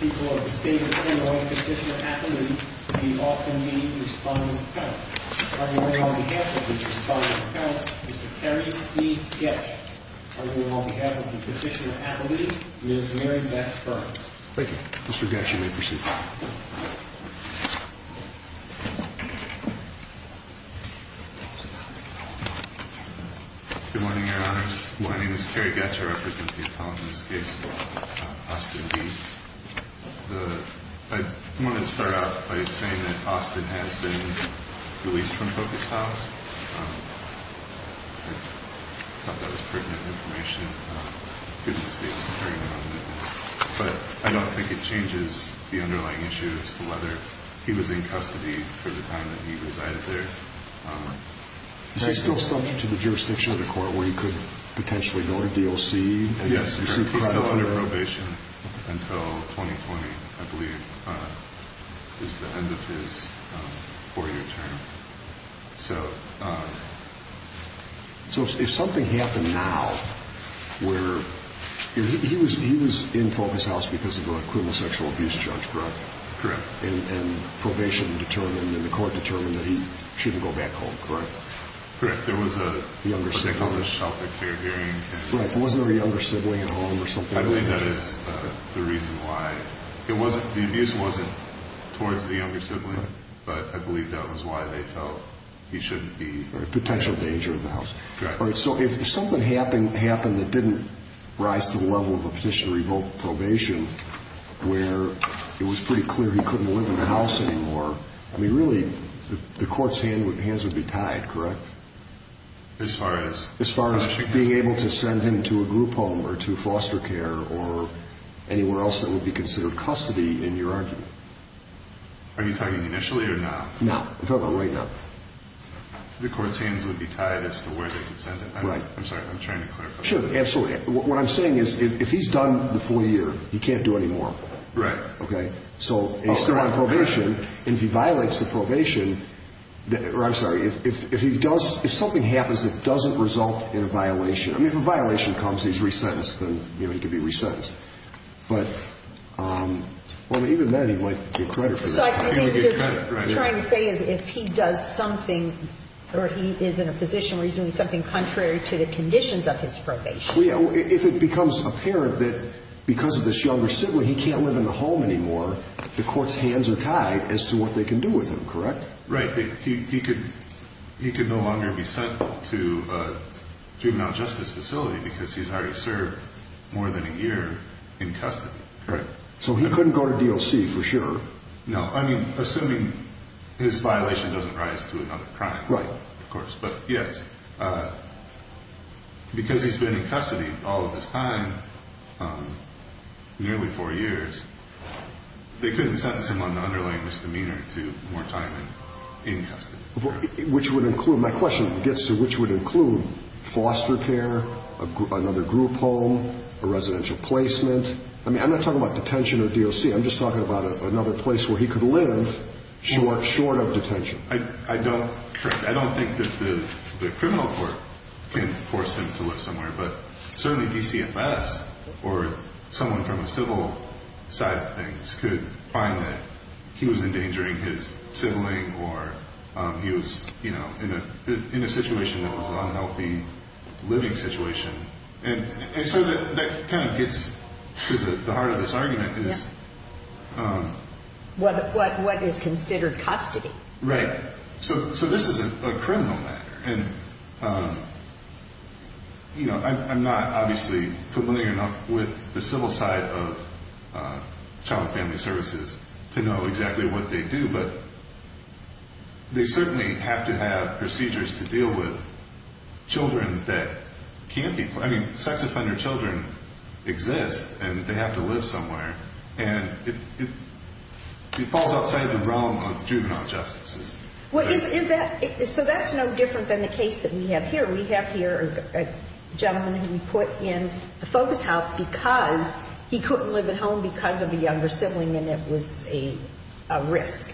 People of the state of Illinois Petitioner-Appellee, the Austin meeting responding appellant. Are you here on behalf of the responding appellant, Mr. Kerry B. Getsch? Are you here on behalf of the Petitioner-Appellee, Ms. Mary Beth Burns? Thank you. Mr. Getsch, you may proceed. Good morning, Your Honors. My name is Kerry Getsch. I represent the appellant in this case, Austin B. I wanted to start out by saying that Austin has been released from focus house. I thought that was pertinent information, given the state's securing of evidence. But I don't think it changes the underlying issue as to whether he was in custody for the time that he resided there. Is he still subject to the jurisdiction of the court where he could potentially go to D.O.C.? Yes, he's still under probation until 2020, I believe, is the end of his four-year term. So if something happened now where he was in focus house because of a criminal sexual abuse charge, correct? Correct. And probation determined and the court determined that he shouldn't go back home, correct? Correct. There was a younger sibling. What they call a sheltered care hearing. Right. Wasn't there a younger sibling at home or something? I believe that is the reason why. The abuse wasn't towards the younger sibling, but I believe that was why they felt he shouldn't be... Potential danger of the house. Correct. So if something happened that didn't rise to the level of a petition to revoke probation, where it was pretty clear he couldn't live in the house anymore, I mean, really, the court's hands would be tied, correct? As far as? As far as being able to send him to a group home or to foster care or anywhere else that would be considered custody in your argument. Are you talking initially or now? Now. We're talking right now. The court's hands would be tied as to where they could send him. Right. I'm sorry. I'm trying to clarify. Sure. Absolutely. What I'm saying is if he's done the four-year, he can't do anymore. Right. Okay. So he's still on probation. Correct. And if he violates the probation, or I'm sorry, if he does, if something happens that doesn't result in a violation, I mean, if a violation comes and he's resentenced, then, you know, he could be resentenced. But, well, even then, he might get credit for that. So I think what you're trying to say is if he does something or he is in a position where he's doing something contrary to the conditions of his probation. If it becomes apparent that because of this younger sibling he can't live in the home anymore, the court's hands are tied as to what they can do with him, correct? Right. He could no longer be sent to a juvenile justice facility because he's already served more than a year in custody. Correct. So he couldn't go to DOC for sure. No. I mean, assuming his violation doesn't rise to another crime. Right. Of course. But, yes, because he's been in custody all of his time, nearly four years, they couldn't sentence him on the underlying misdemeanor to more time in custody. Which would include, my question gets to which would include foster care, another group home, a residential placement. I mean, I'm not talking about detention or DOC. I'm just talking about another place where he could live short of detention. I don't think that the criminal court can force him to live somewhere. But certainly DCFS or someone from a civil side of things could find that he was endangering his sibling or he was, you know, in a situation that was an unhealthy living situation. And so that kind of gets to the heart of this argument. What is considered custody? Right. So this is a criminal matter. And, you know, I'm not obviously familiar enough with the civil side of child and family services to know exactly what they do. But they certainly have to have procedures to deal with children that can't be. I mean, sex offender children exist and they have to live somewhere. And it falls outside the realm of juvenile justices. What is that? So that's no different than the case that we have here. A gentleman who we put in the focus house because he couldn't live at home because of a younger sibling and it was a risk.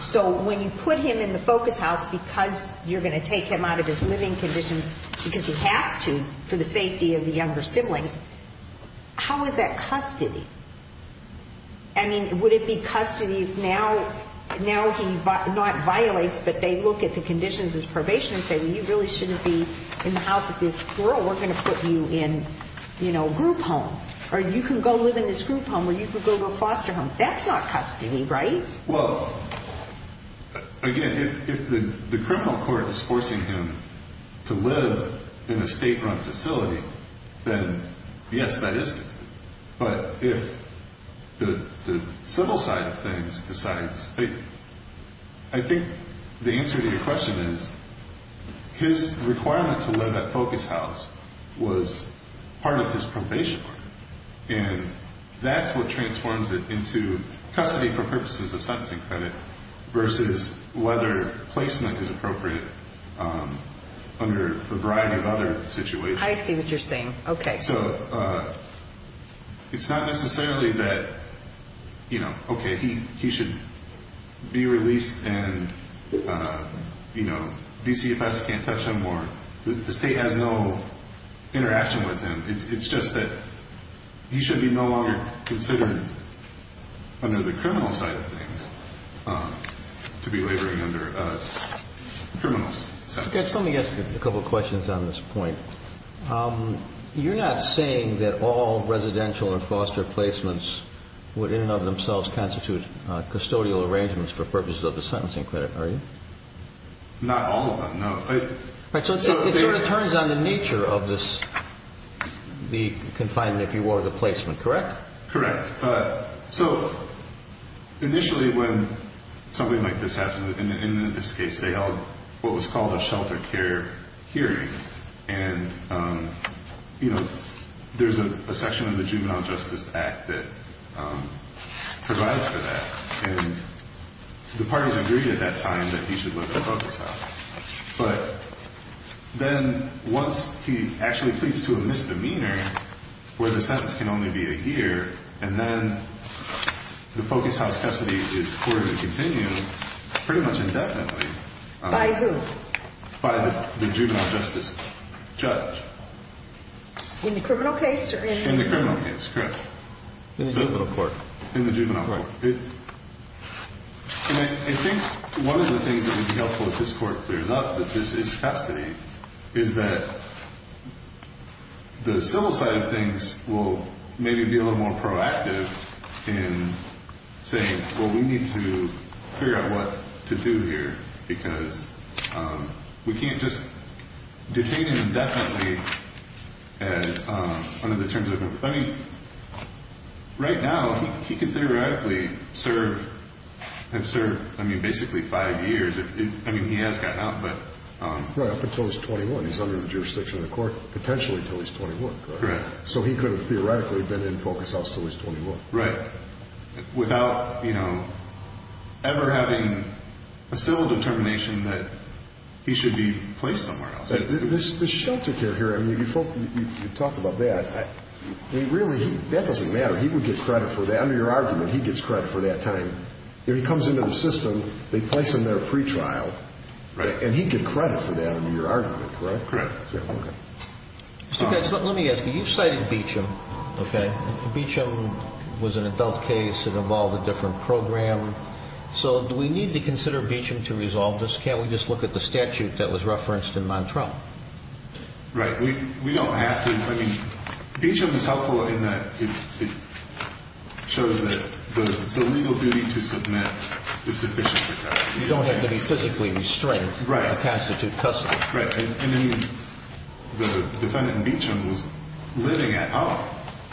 So when you put him in the focus house because you're going to take him out of his living conditions because he has to for the safety of the younger siblings, how is that custody? I mean, would it be custody now? Now he not violates, but they look at the conditions of his probation and say, well, you really shouldn't be in the house with this girl. We're going to put you in, you know, group home or you can go live in this group home where you could go to a foster home. That's not custody, right? Well, again, if the criminal court is forcing him to live in a state run facility, then yes, that is. But if the civil side of things decides, I think the answer to your question is his requirement to live at focus house was part of his probation. And that's what transforms it into custody for purposes of sentencing credit versus whether placement is appropriate under a variety of other situations. I see what you're saying. OK, so it's not necessarily that, you know, OK, he he should be released. And, you know, BCFS can't touch him or the state has no interaction with him. It's just that he should be no longer considered under the criminal side of things to be laboring under criminals. Let me ask you a couple of questions on this point. You're not saying that all residential and foster placements would in and of themselves constitute custodial arrangements for purposes of the sentencing credit, are you? Not all of them, no. So it turns on the nature of this, the confinement, if you were the placement, correct? Correct. But so initially, when something like this happened in this case, they held what was called a shelter care hearing. And, you know, there's a section of the Juvenile Justice Act that provides for that. And the parties agreed at that time that he should live at focus house. But then once he actually pleads to a misdemeanor where the sentence can only be a year and then the focus house custody is courted to continue pretty much indefinitely. By who? By the juvenile justice judge. In the criminal case? In the criminal case, correct. In the juvenile court. In the juvenile court. And I think one of the things that would be helpful if this court clears up that this is custody is that the civil side of things will maybe be a little more proactive in saying, well, we need to figure out what to do here because we can't just detain him indefinitely under the terms of a complaint. Right now, he could theoretically have served basically five years. I mean, he has gotten out. Right, up until he's 21. He's under the jurisdiction of the court potentially until he's 21. Correct. So he could have theoretically been in focus house until he's 21. Right. Without ever having a civil determination that he should be placed somewhere else. This shelter care here, I mean, you talk about that. I mean, really, that doesn't matter. He would get credit for that. Under your argument, he gets credit for that time. If he comes into the system, they place him there pretrial. Right. And he'd get credit for that under your argument, correct? Correct. Okay. Let me ask you. You've cited Beecham. Okay. Beecham was an adult case. It involved a different program. So do we need to consider Beecham to resolve this? Can't we just look at the statute that was referenced in Montrell? Right. We don't have to. I mean, Beecham is helpful in that it shows that the legal duty to submit is sufficient. You don't have to be physically restrained. Right. To constitute custody. Right. And then the defendant in Beecham was living at home,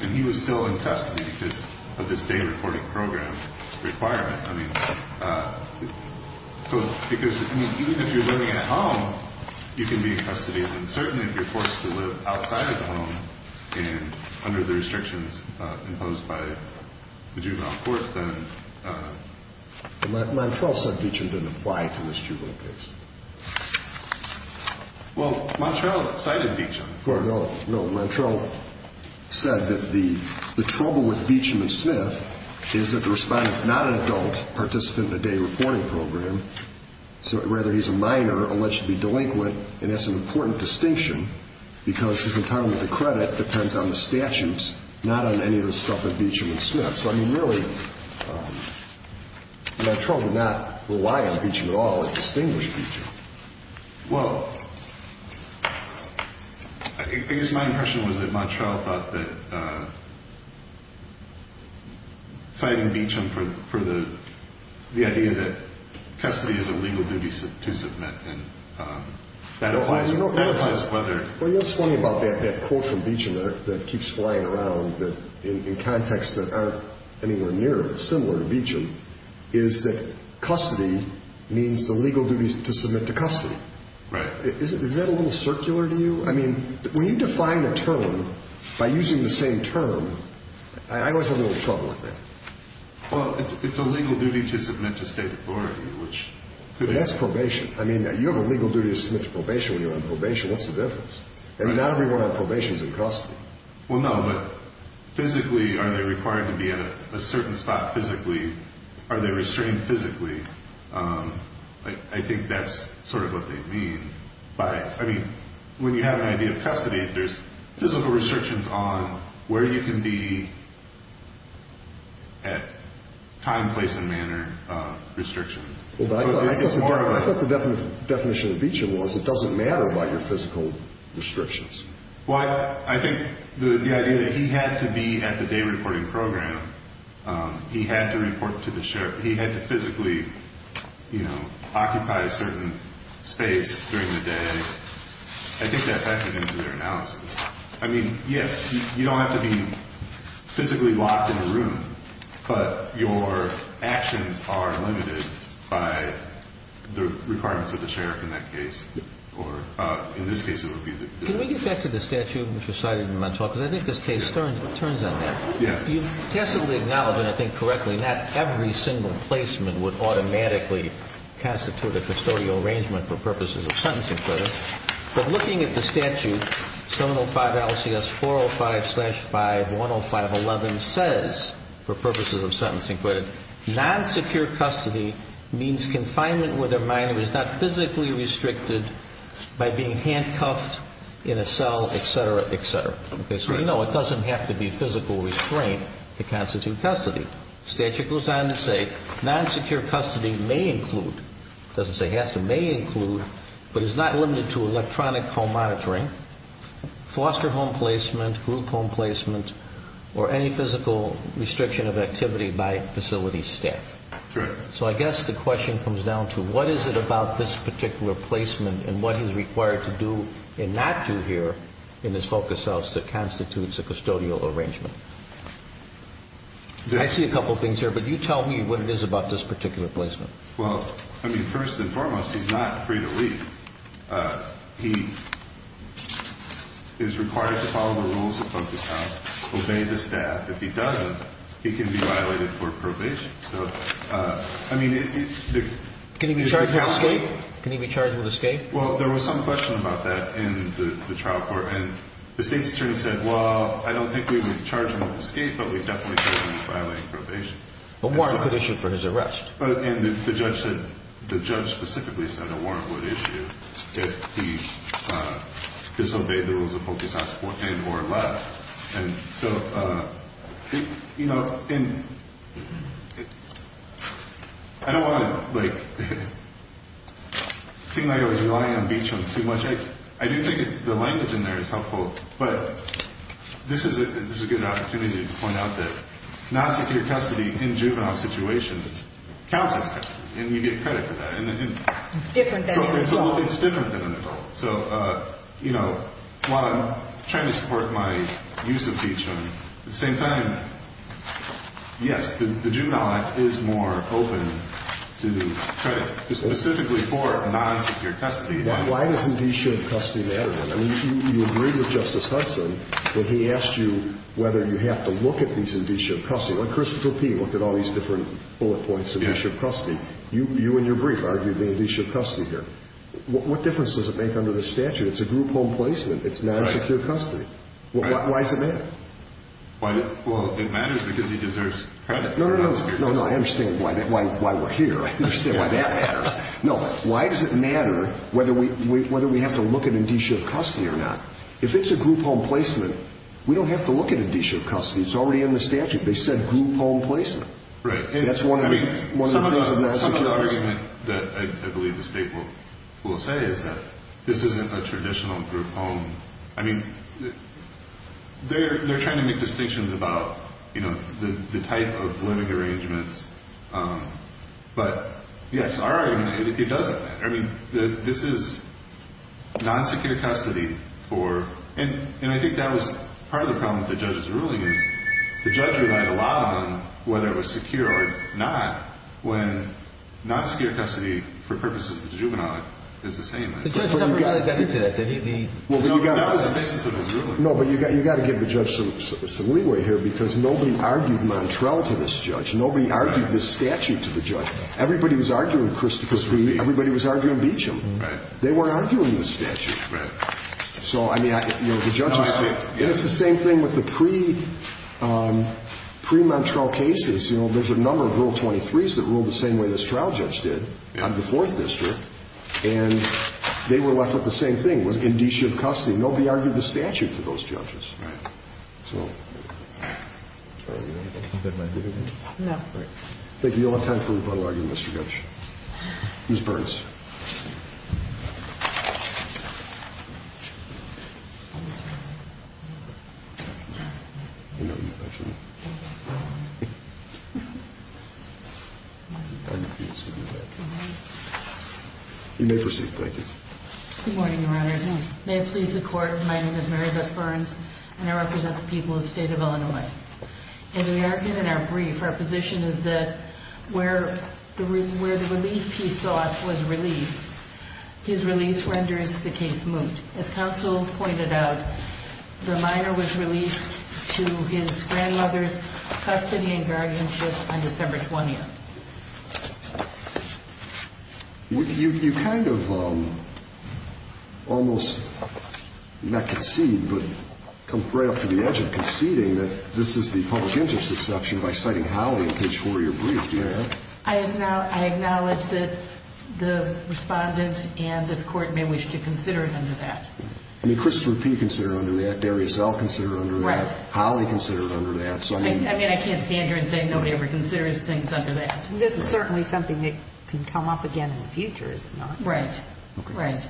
and he was still in custody because of this day reporting program requirement. Right. I mean, so because even if you're living at home, you can be in custody. And certainly if you're forced to live outside of the home and under the restrictions imposed by the juvenile court, then. Montrell said Beecham didn't apply to this juvenile case. Well, Montrell cited Beecham. No, Montrell said that the trouble with Beecham and Smith is that the respondent is not an adult participant in a day reporting program. So rather, he's a minor alleged to be delinquent. And that's an important distinction because his entitlement to credit depends on the statutes, not on any of the stuff in Beecham and Smith. So, I mean, really, Montrell did not rely on Beecham at all. He distinguished Beecham. Well, I guess my impression was that Montrell thought that citing Beecham for the idea that custody is a legal duty to submit, and that applies whether. Well, you know what's funny about that quote from Beecham that keeps flying around in contexts that aren't anywhere near similar to Beecham, is that custody means the legal duty to submit to custody. Right. Is that a little circular to you? I mean, when you define a term by using the same term, I always have a little trouble with that. Well, it's a legal duty to submit to state authority, which could be. But that's probation. I mean, you have a legal duty to submit to probation when you're on probation. What's the difference? And not everyone on probation is in custody. Well, no, but physically, are they required to be at a certain spot physically? Are they restrained physically? I think that's sort of what they mean. I mean, when you have an idea of custody, there's physical restrictions on where you can be at time, place, and manner restrictions. I thought the definition of Beecham was it doesn't matter about your physical restrictions. Well, I think the idea that he had to be at the day reporting program, he had to report to the sheriff. He had to physically, you know, occupy a certain space during the day. I think that factored into their analysis. I mean, yes, you don't have to be physically locked in a room, but your actions are limited by the requirements of the sheriff in that case. Can we get back to the statute which was cited in Montauk? Because I think this case turns on that. Yeah. You tacitly acknowledge, and I think correctly, not every single placement would automatically constitute a custodial arrangement for purposes of sentencing credit. But looking at the statute, 705 LCS 405 slash 510511 says, for purposes of sentencing credit, non-secure custody means confinement where the minor is not physically restricted by being handcuffed in a cell, et cetera, et cetera. So, you know, it doesn't have to be physical restraint to constitute custody. Statute goes on to say non-secure custody may include, doesn't say has to, may include, but is not limited to electronic home monitoring, foster home placement, group home placement, or any physical restriction of activity by facility staff. Correct. So I guess the question comes down to what is it about this particular placement and what is required to do and not do here in this focus house that constitutes a custodial arrangement? I see a couple of things here, but you tell me what it is about this particular placement. Well, I mean, first and foremost, he's not free to leave. He is required to follow the rules of focus house, obey the staff. If he doesn't, he can be violated for probation. So, I mean, if you- Can he be charged with escape? Can he be charged with escape? Well, there was some question about that in the trial court. And the state's attorney said, well, I don't think we would charge him with escape, but we definitely can't charge him with violating probation. A warrant would issue for his arrest. And the judge specifically said a warrant would issue if he disobeyed the rules of focus house and or left. And so, you know, I don't want to, like, seem like I was relying on Beacham too much. I do think the language in there is helpful, but this is a good opportunity to point out that non-secure custody in juvenile situations counts as custody, and you get credit for that. It's different than an adult. It's different than an adult. So, you know, while I'm trying to support my use of Beacham, at the same time, yes, the juvenile act is more open to credit, specifically for non-secure custody. Why does indicia of custody matter? I mean, you agree with Justice Hudson when he asked you whether you have to look at these indicia of custody. Like Christopher P. looked at all these different bullet points of indicia of custody. You in your brief argued the indicia of custody here. What difference does it make under the statute? It's a group home placement. It's non-secure custody. Why does it matter? Well, it matters because he deserves credit for non-secure custody. No, no, no. I understand why we're here. I understand why that matters. No, why does it matter whether we have to look at indicia of custody or not? If it's a group home placement, we don't have to look at indicia of custody. It's already in the statute. They said group home placement. Right. That's one of the things of non-secure custody. Some of the argument that I believe the state will say is that this isn't a traditional group home. I mean, they're trying to make distinctions about, you know, the type of living arrangements. But, yes, our argument is it doesn't matter. I mean, this is non-secure custody for, and I think that was part of the problem with the judge's ruling, is the judge relied a lot on whether it was secure or not, when non-secure custody for purposes of the juvenile is the same. The judge never got into that. That was the basis of his ruling. No, but you've got to give the judge some leeway here because nobody argued Montrell to this judge. Nobody argued this statute to the judge. Everybody was arguing Christopher's plea. Everybody was arguing Beecham. Right. They weren't arguing the statute. Right. So, I mean, you know, the judges did. And it's the same thing with the pre-Montrell cases. You know, there's a number of Rule 23s that ruled the same way this trial judge did on the 4th District, and they were left with the same thing, was indicia of custody. Nobody argued the statute to those judges. Right. So, are we going to move it? No. Thank you. You'll have time for rebuttal argument, Mr. Judge. Ms. Burns. You may proceed. Thank you. Good morning, Your Honor. May it please the Court, my name is Marietta Burns, and I represent the people of the state of Illinois. In our brief, our position is that where the relief he sought was released, his release renders the case moot. As counsel pointed out, the minor was released to his grandmother's custody and guardianship on December 20th. You kind of almost, not concede, but come right up to the edge of conceding that this is the public interest exception by citing Howley in Page 4 of your brief, do you know that? I acknowledge that the Respondent and this Court may wish to consider it under that. I mean, Christopher P. considered it under that, Darius L. considered it under that. Right. Howley considered it under that. I mean, I can't stand here and say nobody ever considers things under that. This is certainly something that can come up again in the future, is it not? Right. Right.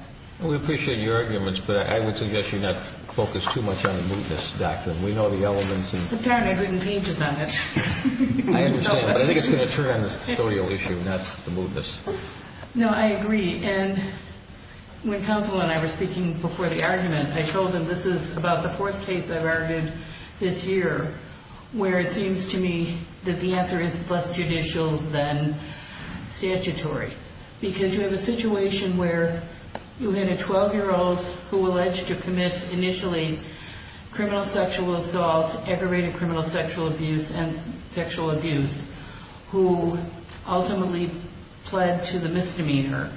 We appreciate your arguments, but I would suggest you not focus too much on the mootness doctrine. We know the elements. But darn, I've written pages on it. I understand, but I think it's going to turn on the custodial issue, not the mootness. No, I agree. And when counsel and I were speaking before the argument, I told them this is about the fourth case I've argued this year where it seems to me that the answer is less judicial than statutory. Because you have a situation where you had a 12-year-old who alleged to commit initially criminal sexual assault, aggravated criminal sexual abuse, and sexual abuse, who ultimately pled to the misdemeanor.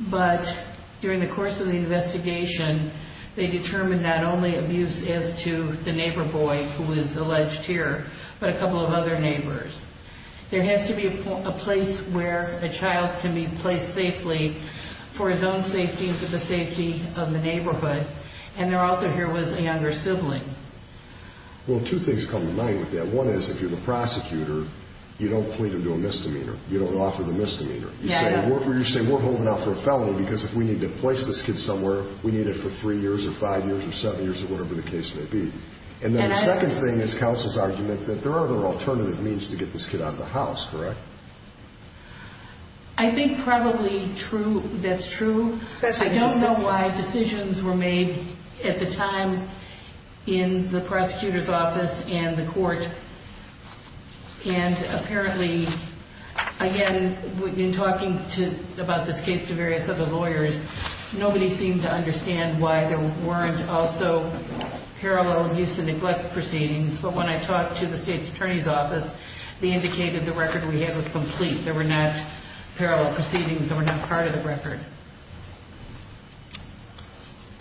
But during the course of the investigation, they determined not only abuse as to the neighbor boy who was alleged here, but a couple of other neighbors. There has to be a place where a child can be placed safely for his own safety and for the safety of the neighborhood. And there also here was a younger sibling. Well, two things come to mind with that. One is if you're the prosecutor, you don't plead him to a misdemeanor. You don't offer the misdemeanor. You say we're holding out for a felony because if we need to place this kid somewhere, we need it for three years or five years or seven years or whatever the case may be. And then the second thing is counsel's argument that there are other alternative means to get this kid out of the house, correct? I think probably that's true. I don't know why decisions were made at the time in the prosecutor's office and the court. And apparently, again, in talking about this case to various other lawyers, nobody seemed to understand why there weren't also parallel abuse and neglect proceedings. But when I talked to the state's attorney's office, they indicated the record we had was complete. There were not parallel proceedings that were not part of the record.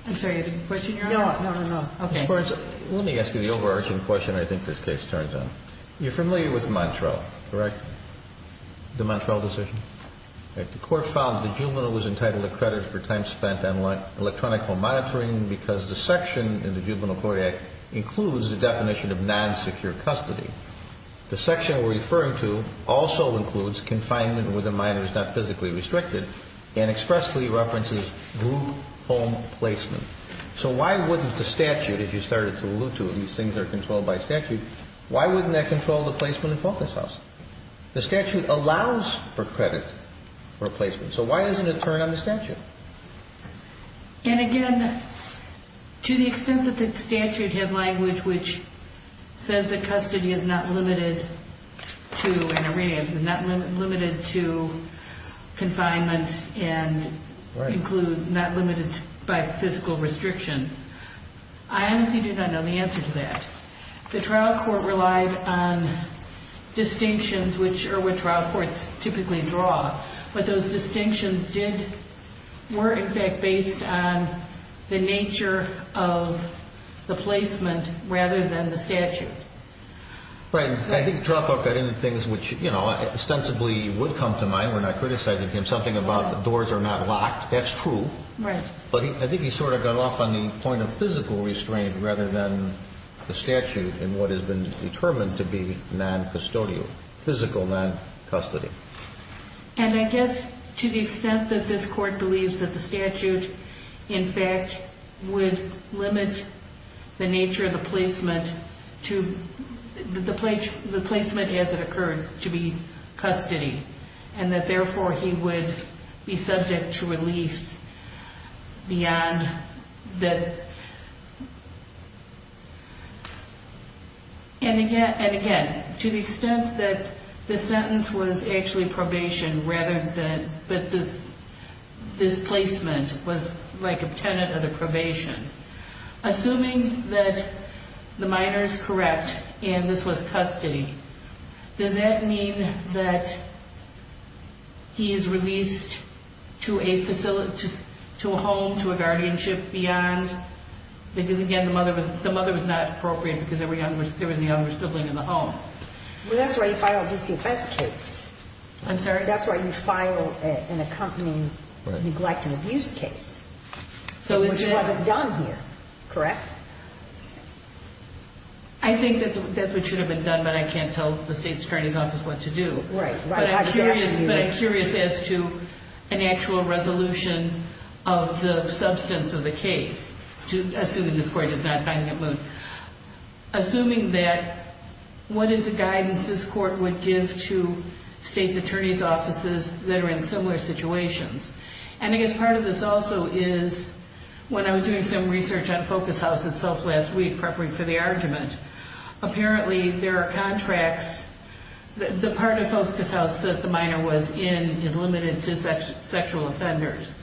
I'm sorry, you had a question, Your Honor? No, no, no, no. Okay. Your Honor, let me ask you the overarching question I think this case turns on. You're familiar with Montrell, correct, the Montrell decision? The court found the juvenile was entitled to credit for time spent on electronic home monitoring because the section in the Juvenile Court Act includes the definition of non-secure custody. The section we're referring to also includes confinement where the minor is not physically restricted and expressly references group home placement. So why wouldn't the statute, if you started to allude to these things are controlled by statute, why wouldn't that control the placement of focus house? The statute allows for credit for placement, so why doesn't it turn on the statute? And again, to the extent that the statute had language which says that custody is not limited to an arraignment, not limited to confinement and includes not limited by physical restriction, I honestly do not know the answer to that. The trial court relied on distinctions which trial courts typically draw, but those distinctions were in fact based on the nature of the placement rather than the statute. I think trial court got into things which ostensibly would come to mind. We're not criticizing him. Something about the doors are not locked, that's true. But I think he sort of got off on the point of physical restraint rather than the statute in what has been determined to be non-custodial, physical non-custody. And I guess to the extent that this court believes that the statute in fact would limit the nature of the placement as it occurred to be custody and that therefore he would be subject to release beyond that. And again, to the extent that this sentence was actually probation rather than this placement was like a tenet of the probation. Assuming that the minor is correct and this was custody, does that mean that he is released to a home, to a guardianship beyond? Because again, the mother was not appropriate because there was a younger sibling in the home. Well, that's why you filed a DCFS case. I'm sorry? That's why you filed an accompanying neglect and abuse case. Which wasn't done here, correct? I think that's what should have been done, but I can't tell the State's Attorney's Office what to do. Right, right. But I'm curious as to an actual resolution of the substance of the case, assuming this Court is not finding it moot. Assuming that, what is the guidance this Court would give to State's Attorney's Offices that are in similar situations? And I guess part of this also is, when I was doing some research on Focus House itself last week, preparing for the argument, apparently there are contracts. The part of Focus House that the minor was in is limited to sexual offenders.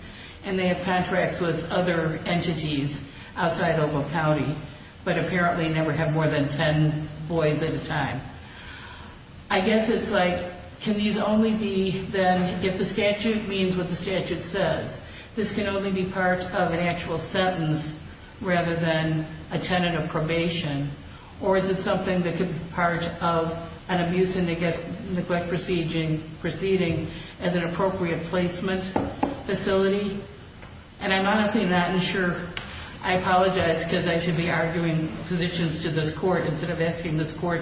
And they have contracts with other entities outside of Oak County, but apparently never have more than ten boys at a time. I guess it's like, can these only be then, if the statute means what the statute says, this can only be part of an actual sentence rather than a tenant of probation? Or is it something that could be part of an abuse and neglect proceeding as an appropriate placement facility? And I'm honestly not sure. I apologize because I should be arguing positions to this Court instead of asking this Court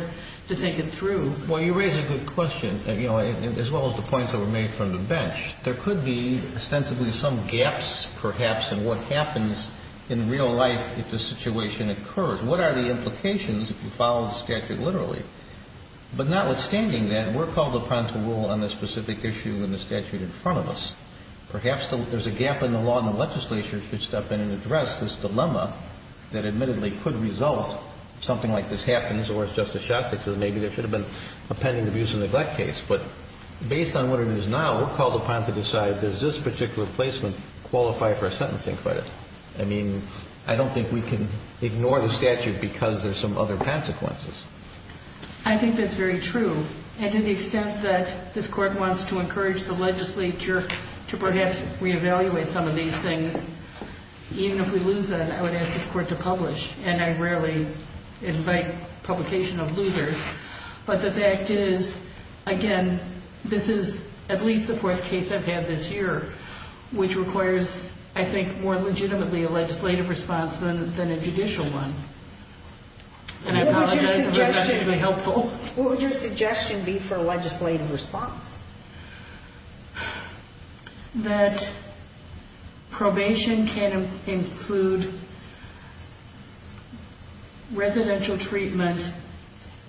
to take it through. Well, you raise a good question, as well as the points that were made from the bench. There could be ostensibly some gaps, perhaps, in what happens in real life if the situation occurs. What are the implications if you follow the statute literally? But notwithstanding that, we're called upon to rule on the specific issue in the statute in front of us. Perhaps there's a gap in the law and the legislature should step in and address this dilemma that admittedly could result if something like this happens, or as Justice Shostak says, maybe there should have been a pending abuse and neglect case. But based on what it is now, we're called upon to decide, does this particular placement qualify for a sentencing credit? I mean, I don't think we can ignore the statute because there's some other consequences. I think that's very true. And to the extent that this Court wants to encourage the legislature to perhaps reevaluate some of these things, even if we lose them, I would ask this Court to publish. And I rarely invite publication of losers. But the fact is, again, this is at least the fourth case I've had this year, which requires, I think, more legitimately a legislative response than a judicial one. What would your suggestion be for a legislative response? That probation can include residential treatment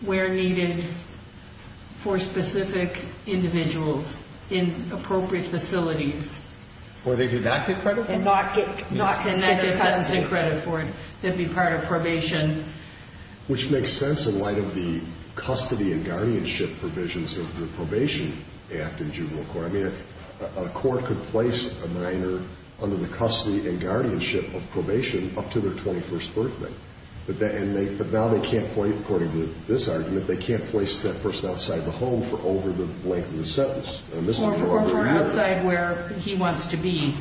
where needed for specific individuals in appropriate facilities. Where they do not get credit for it? And they get sentencing credit for it. They'd be part of probation. Which makes sense in light of the custody and guardianship provisions of the Probation Act in juvenile court. I mean, a court could place a minor under the custody and guardianship of probation up to their 21st birthday. But now they can't place, according to this argument, they can't place that person outside the home for over the length of the sentence. Or for outside where he wants to be.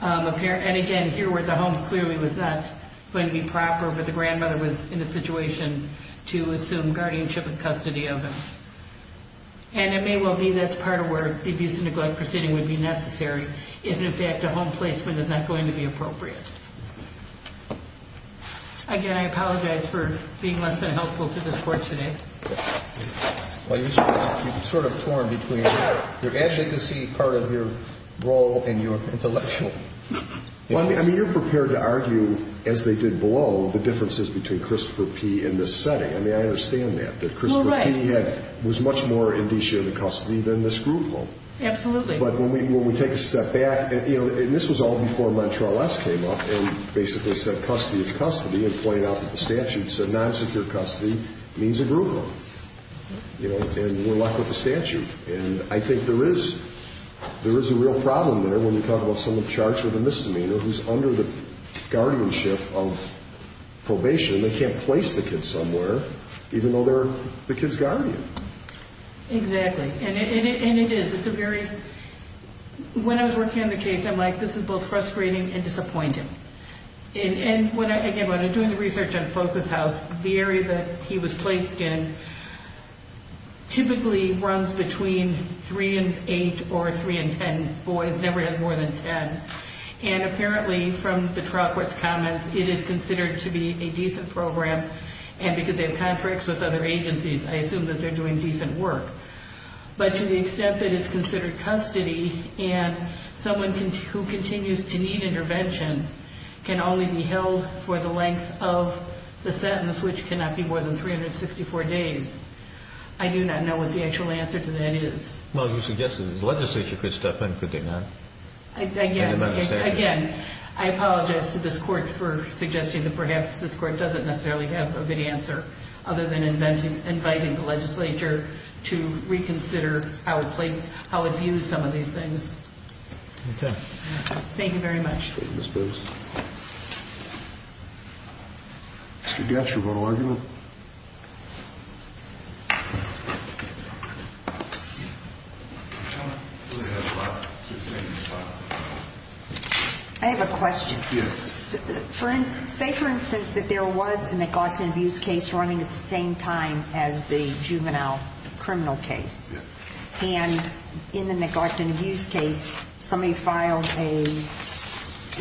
And again, here where the home clearly was not going to be proper, but the grandmother was in a situation to assume guardianship and custody of him. And it may well be that's part of where the abuse and neglect proceeding would be necessary, if in fact a home placement is not going to be appropriate. Again, I apologize for being less than helpful to this Court today. Well, you've sort of torn between your advocacy part of your role and your intellectual. Well, I mean, you're prepared to argue, as they did below, the differences between Christopher P. and this setting. I mean, I understand that. That Christopher P. was much more indicia of the custody than this group home. Absolutely. But when we take a step back, and this was all before Montrell S. came up and basically said custody is custody and pointed out that the statute said non-secure custody means a group home. And we're left with the statute. And I think there is a real problem there when you talk about someone charged with a misdemeanor who's under the guardianship of probation. They can't place the kid somewhere, even though they're the kid's guardian. Exactly. And it is. It's a very – when I was working on the case, I'm like, this is both frustrating and disappointing. And, again, when I'm doing the research on Focus House, the area that he was placed in typically runs between 3 and 8 or 3 and 10. Boys never had more than 10. And apparently, from the trial court's comments, it is considered to be a decent program. And because they have contracts with other agencies, I assume that they're doing decent work. But to the extent that it's considered custody and someone who continues to need intervention can only be held for the length of the sentence, which cannot be more than 364 days, I do not know what the actual answer to that is. Well, you suggested the legislature could step in, could they not? Again, I apologize to this Court for suggesting that perhaps this Court doesn't necessarily have a good answer other than inviting the legislature to reconsider how it views some of these things. Okay. Thank you very much. Thank you, Ms. Booth. Mr. Gatch, you want to argue? I have a question. Yes. Say, for instance, that there was a neglect and abuse case running at the same time as the juvenile criminal case. Yes. And in the neglect and abuse case, somebody filed a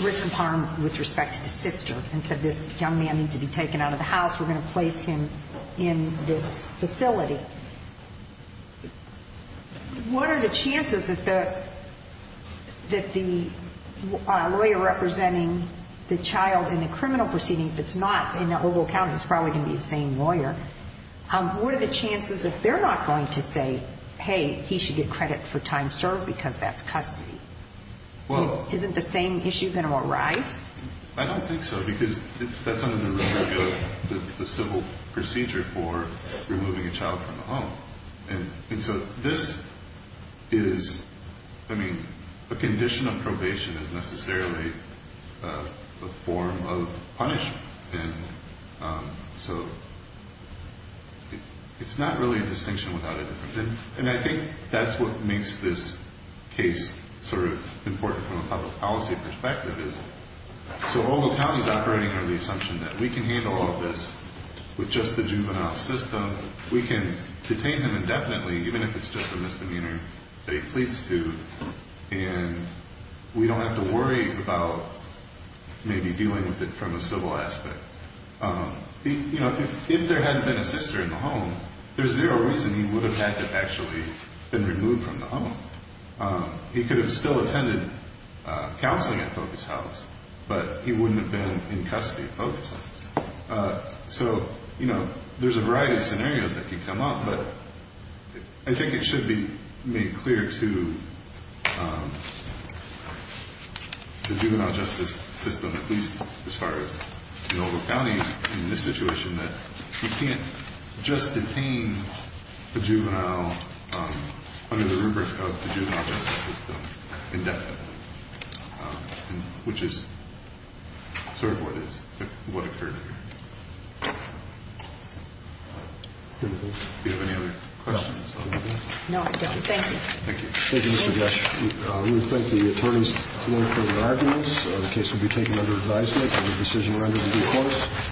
risk of harm with respect to the sister and said this young man needs to be taken out of the house, we're going to place him in this facility. What are the chances that the lawyer representing the child in the criminal proceeding, if it's not in the Oval Account, it's probably going to be the same lawyer, what are the chances that they're not going to say, hey, he should get credit for time served because that's custody? Well. Isn't the same issue going to arise? I don't think so because that's under the civil procedure for removing a child from a home. And so this is, I mean, a condition of probation is necessarily a form of punishment. And so it's not really a distinction without a difference. And I think that's what makes this case sort of important from a public policy perspective is, so Oval Account is operating under the assumption that we can handle all of this with just the juvenile system, we can detain him indefinitely even if it's just a misdemeanor that he pleads to, and we don't have to worry about maybe dealing with it from a civil aspect. But if there hadn't been a sister in the home, there's zero reason he would have had to have actually been removed from the home. He could have still attended counseling at Focus House, but he wouldn't have been in custody at Focus House. So there's a variety of scenarios that could come up, but I think it should be made clear to the juvenile justice system, at least as far as Oval Accounting in this situation, that you can't just detain a juvenile under the rubric of the juvenile justice system indefinitely, which is sort of what occurred here. Do you have any other questions? No, I don't. Thank you. Thank you, Mr. Gush. We thank the attorneys for their arguments. The case will be taken under advisement and the decision rendered in due course.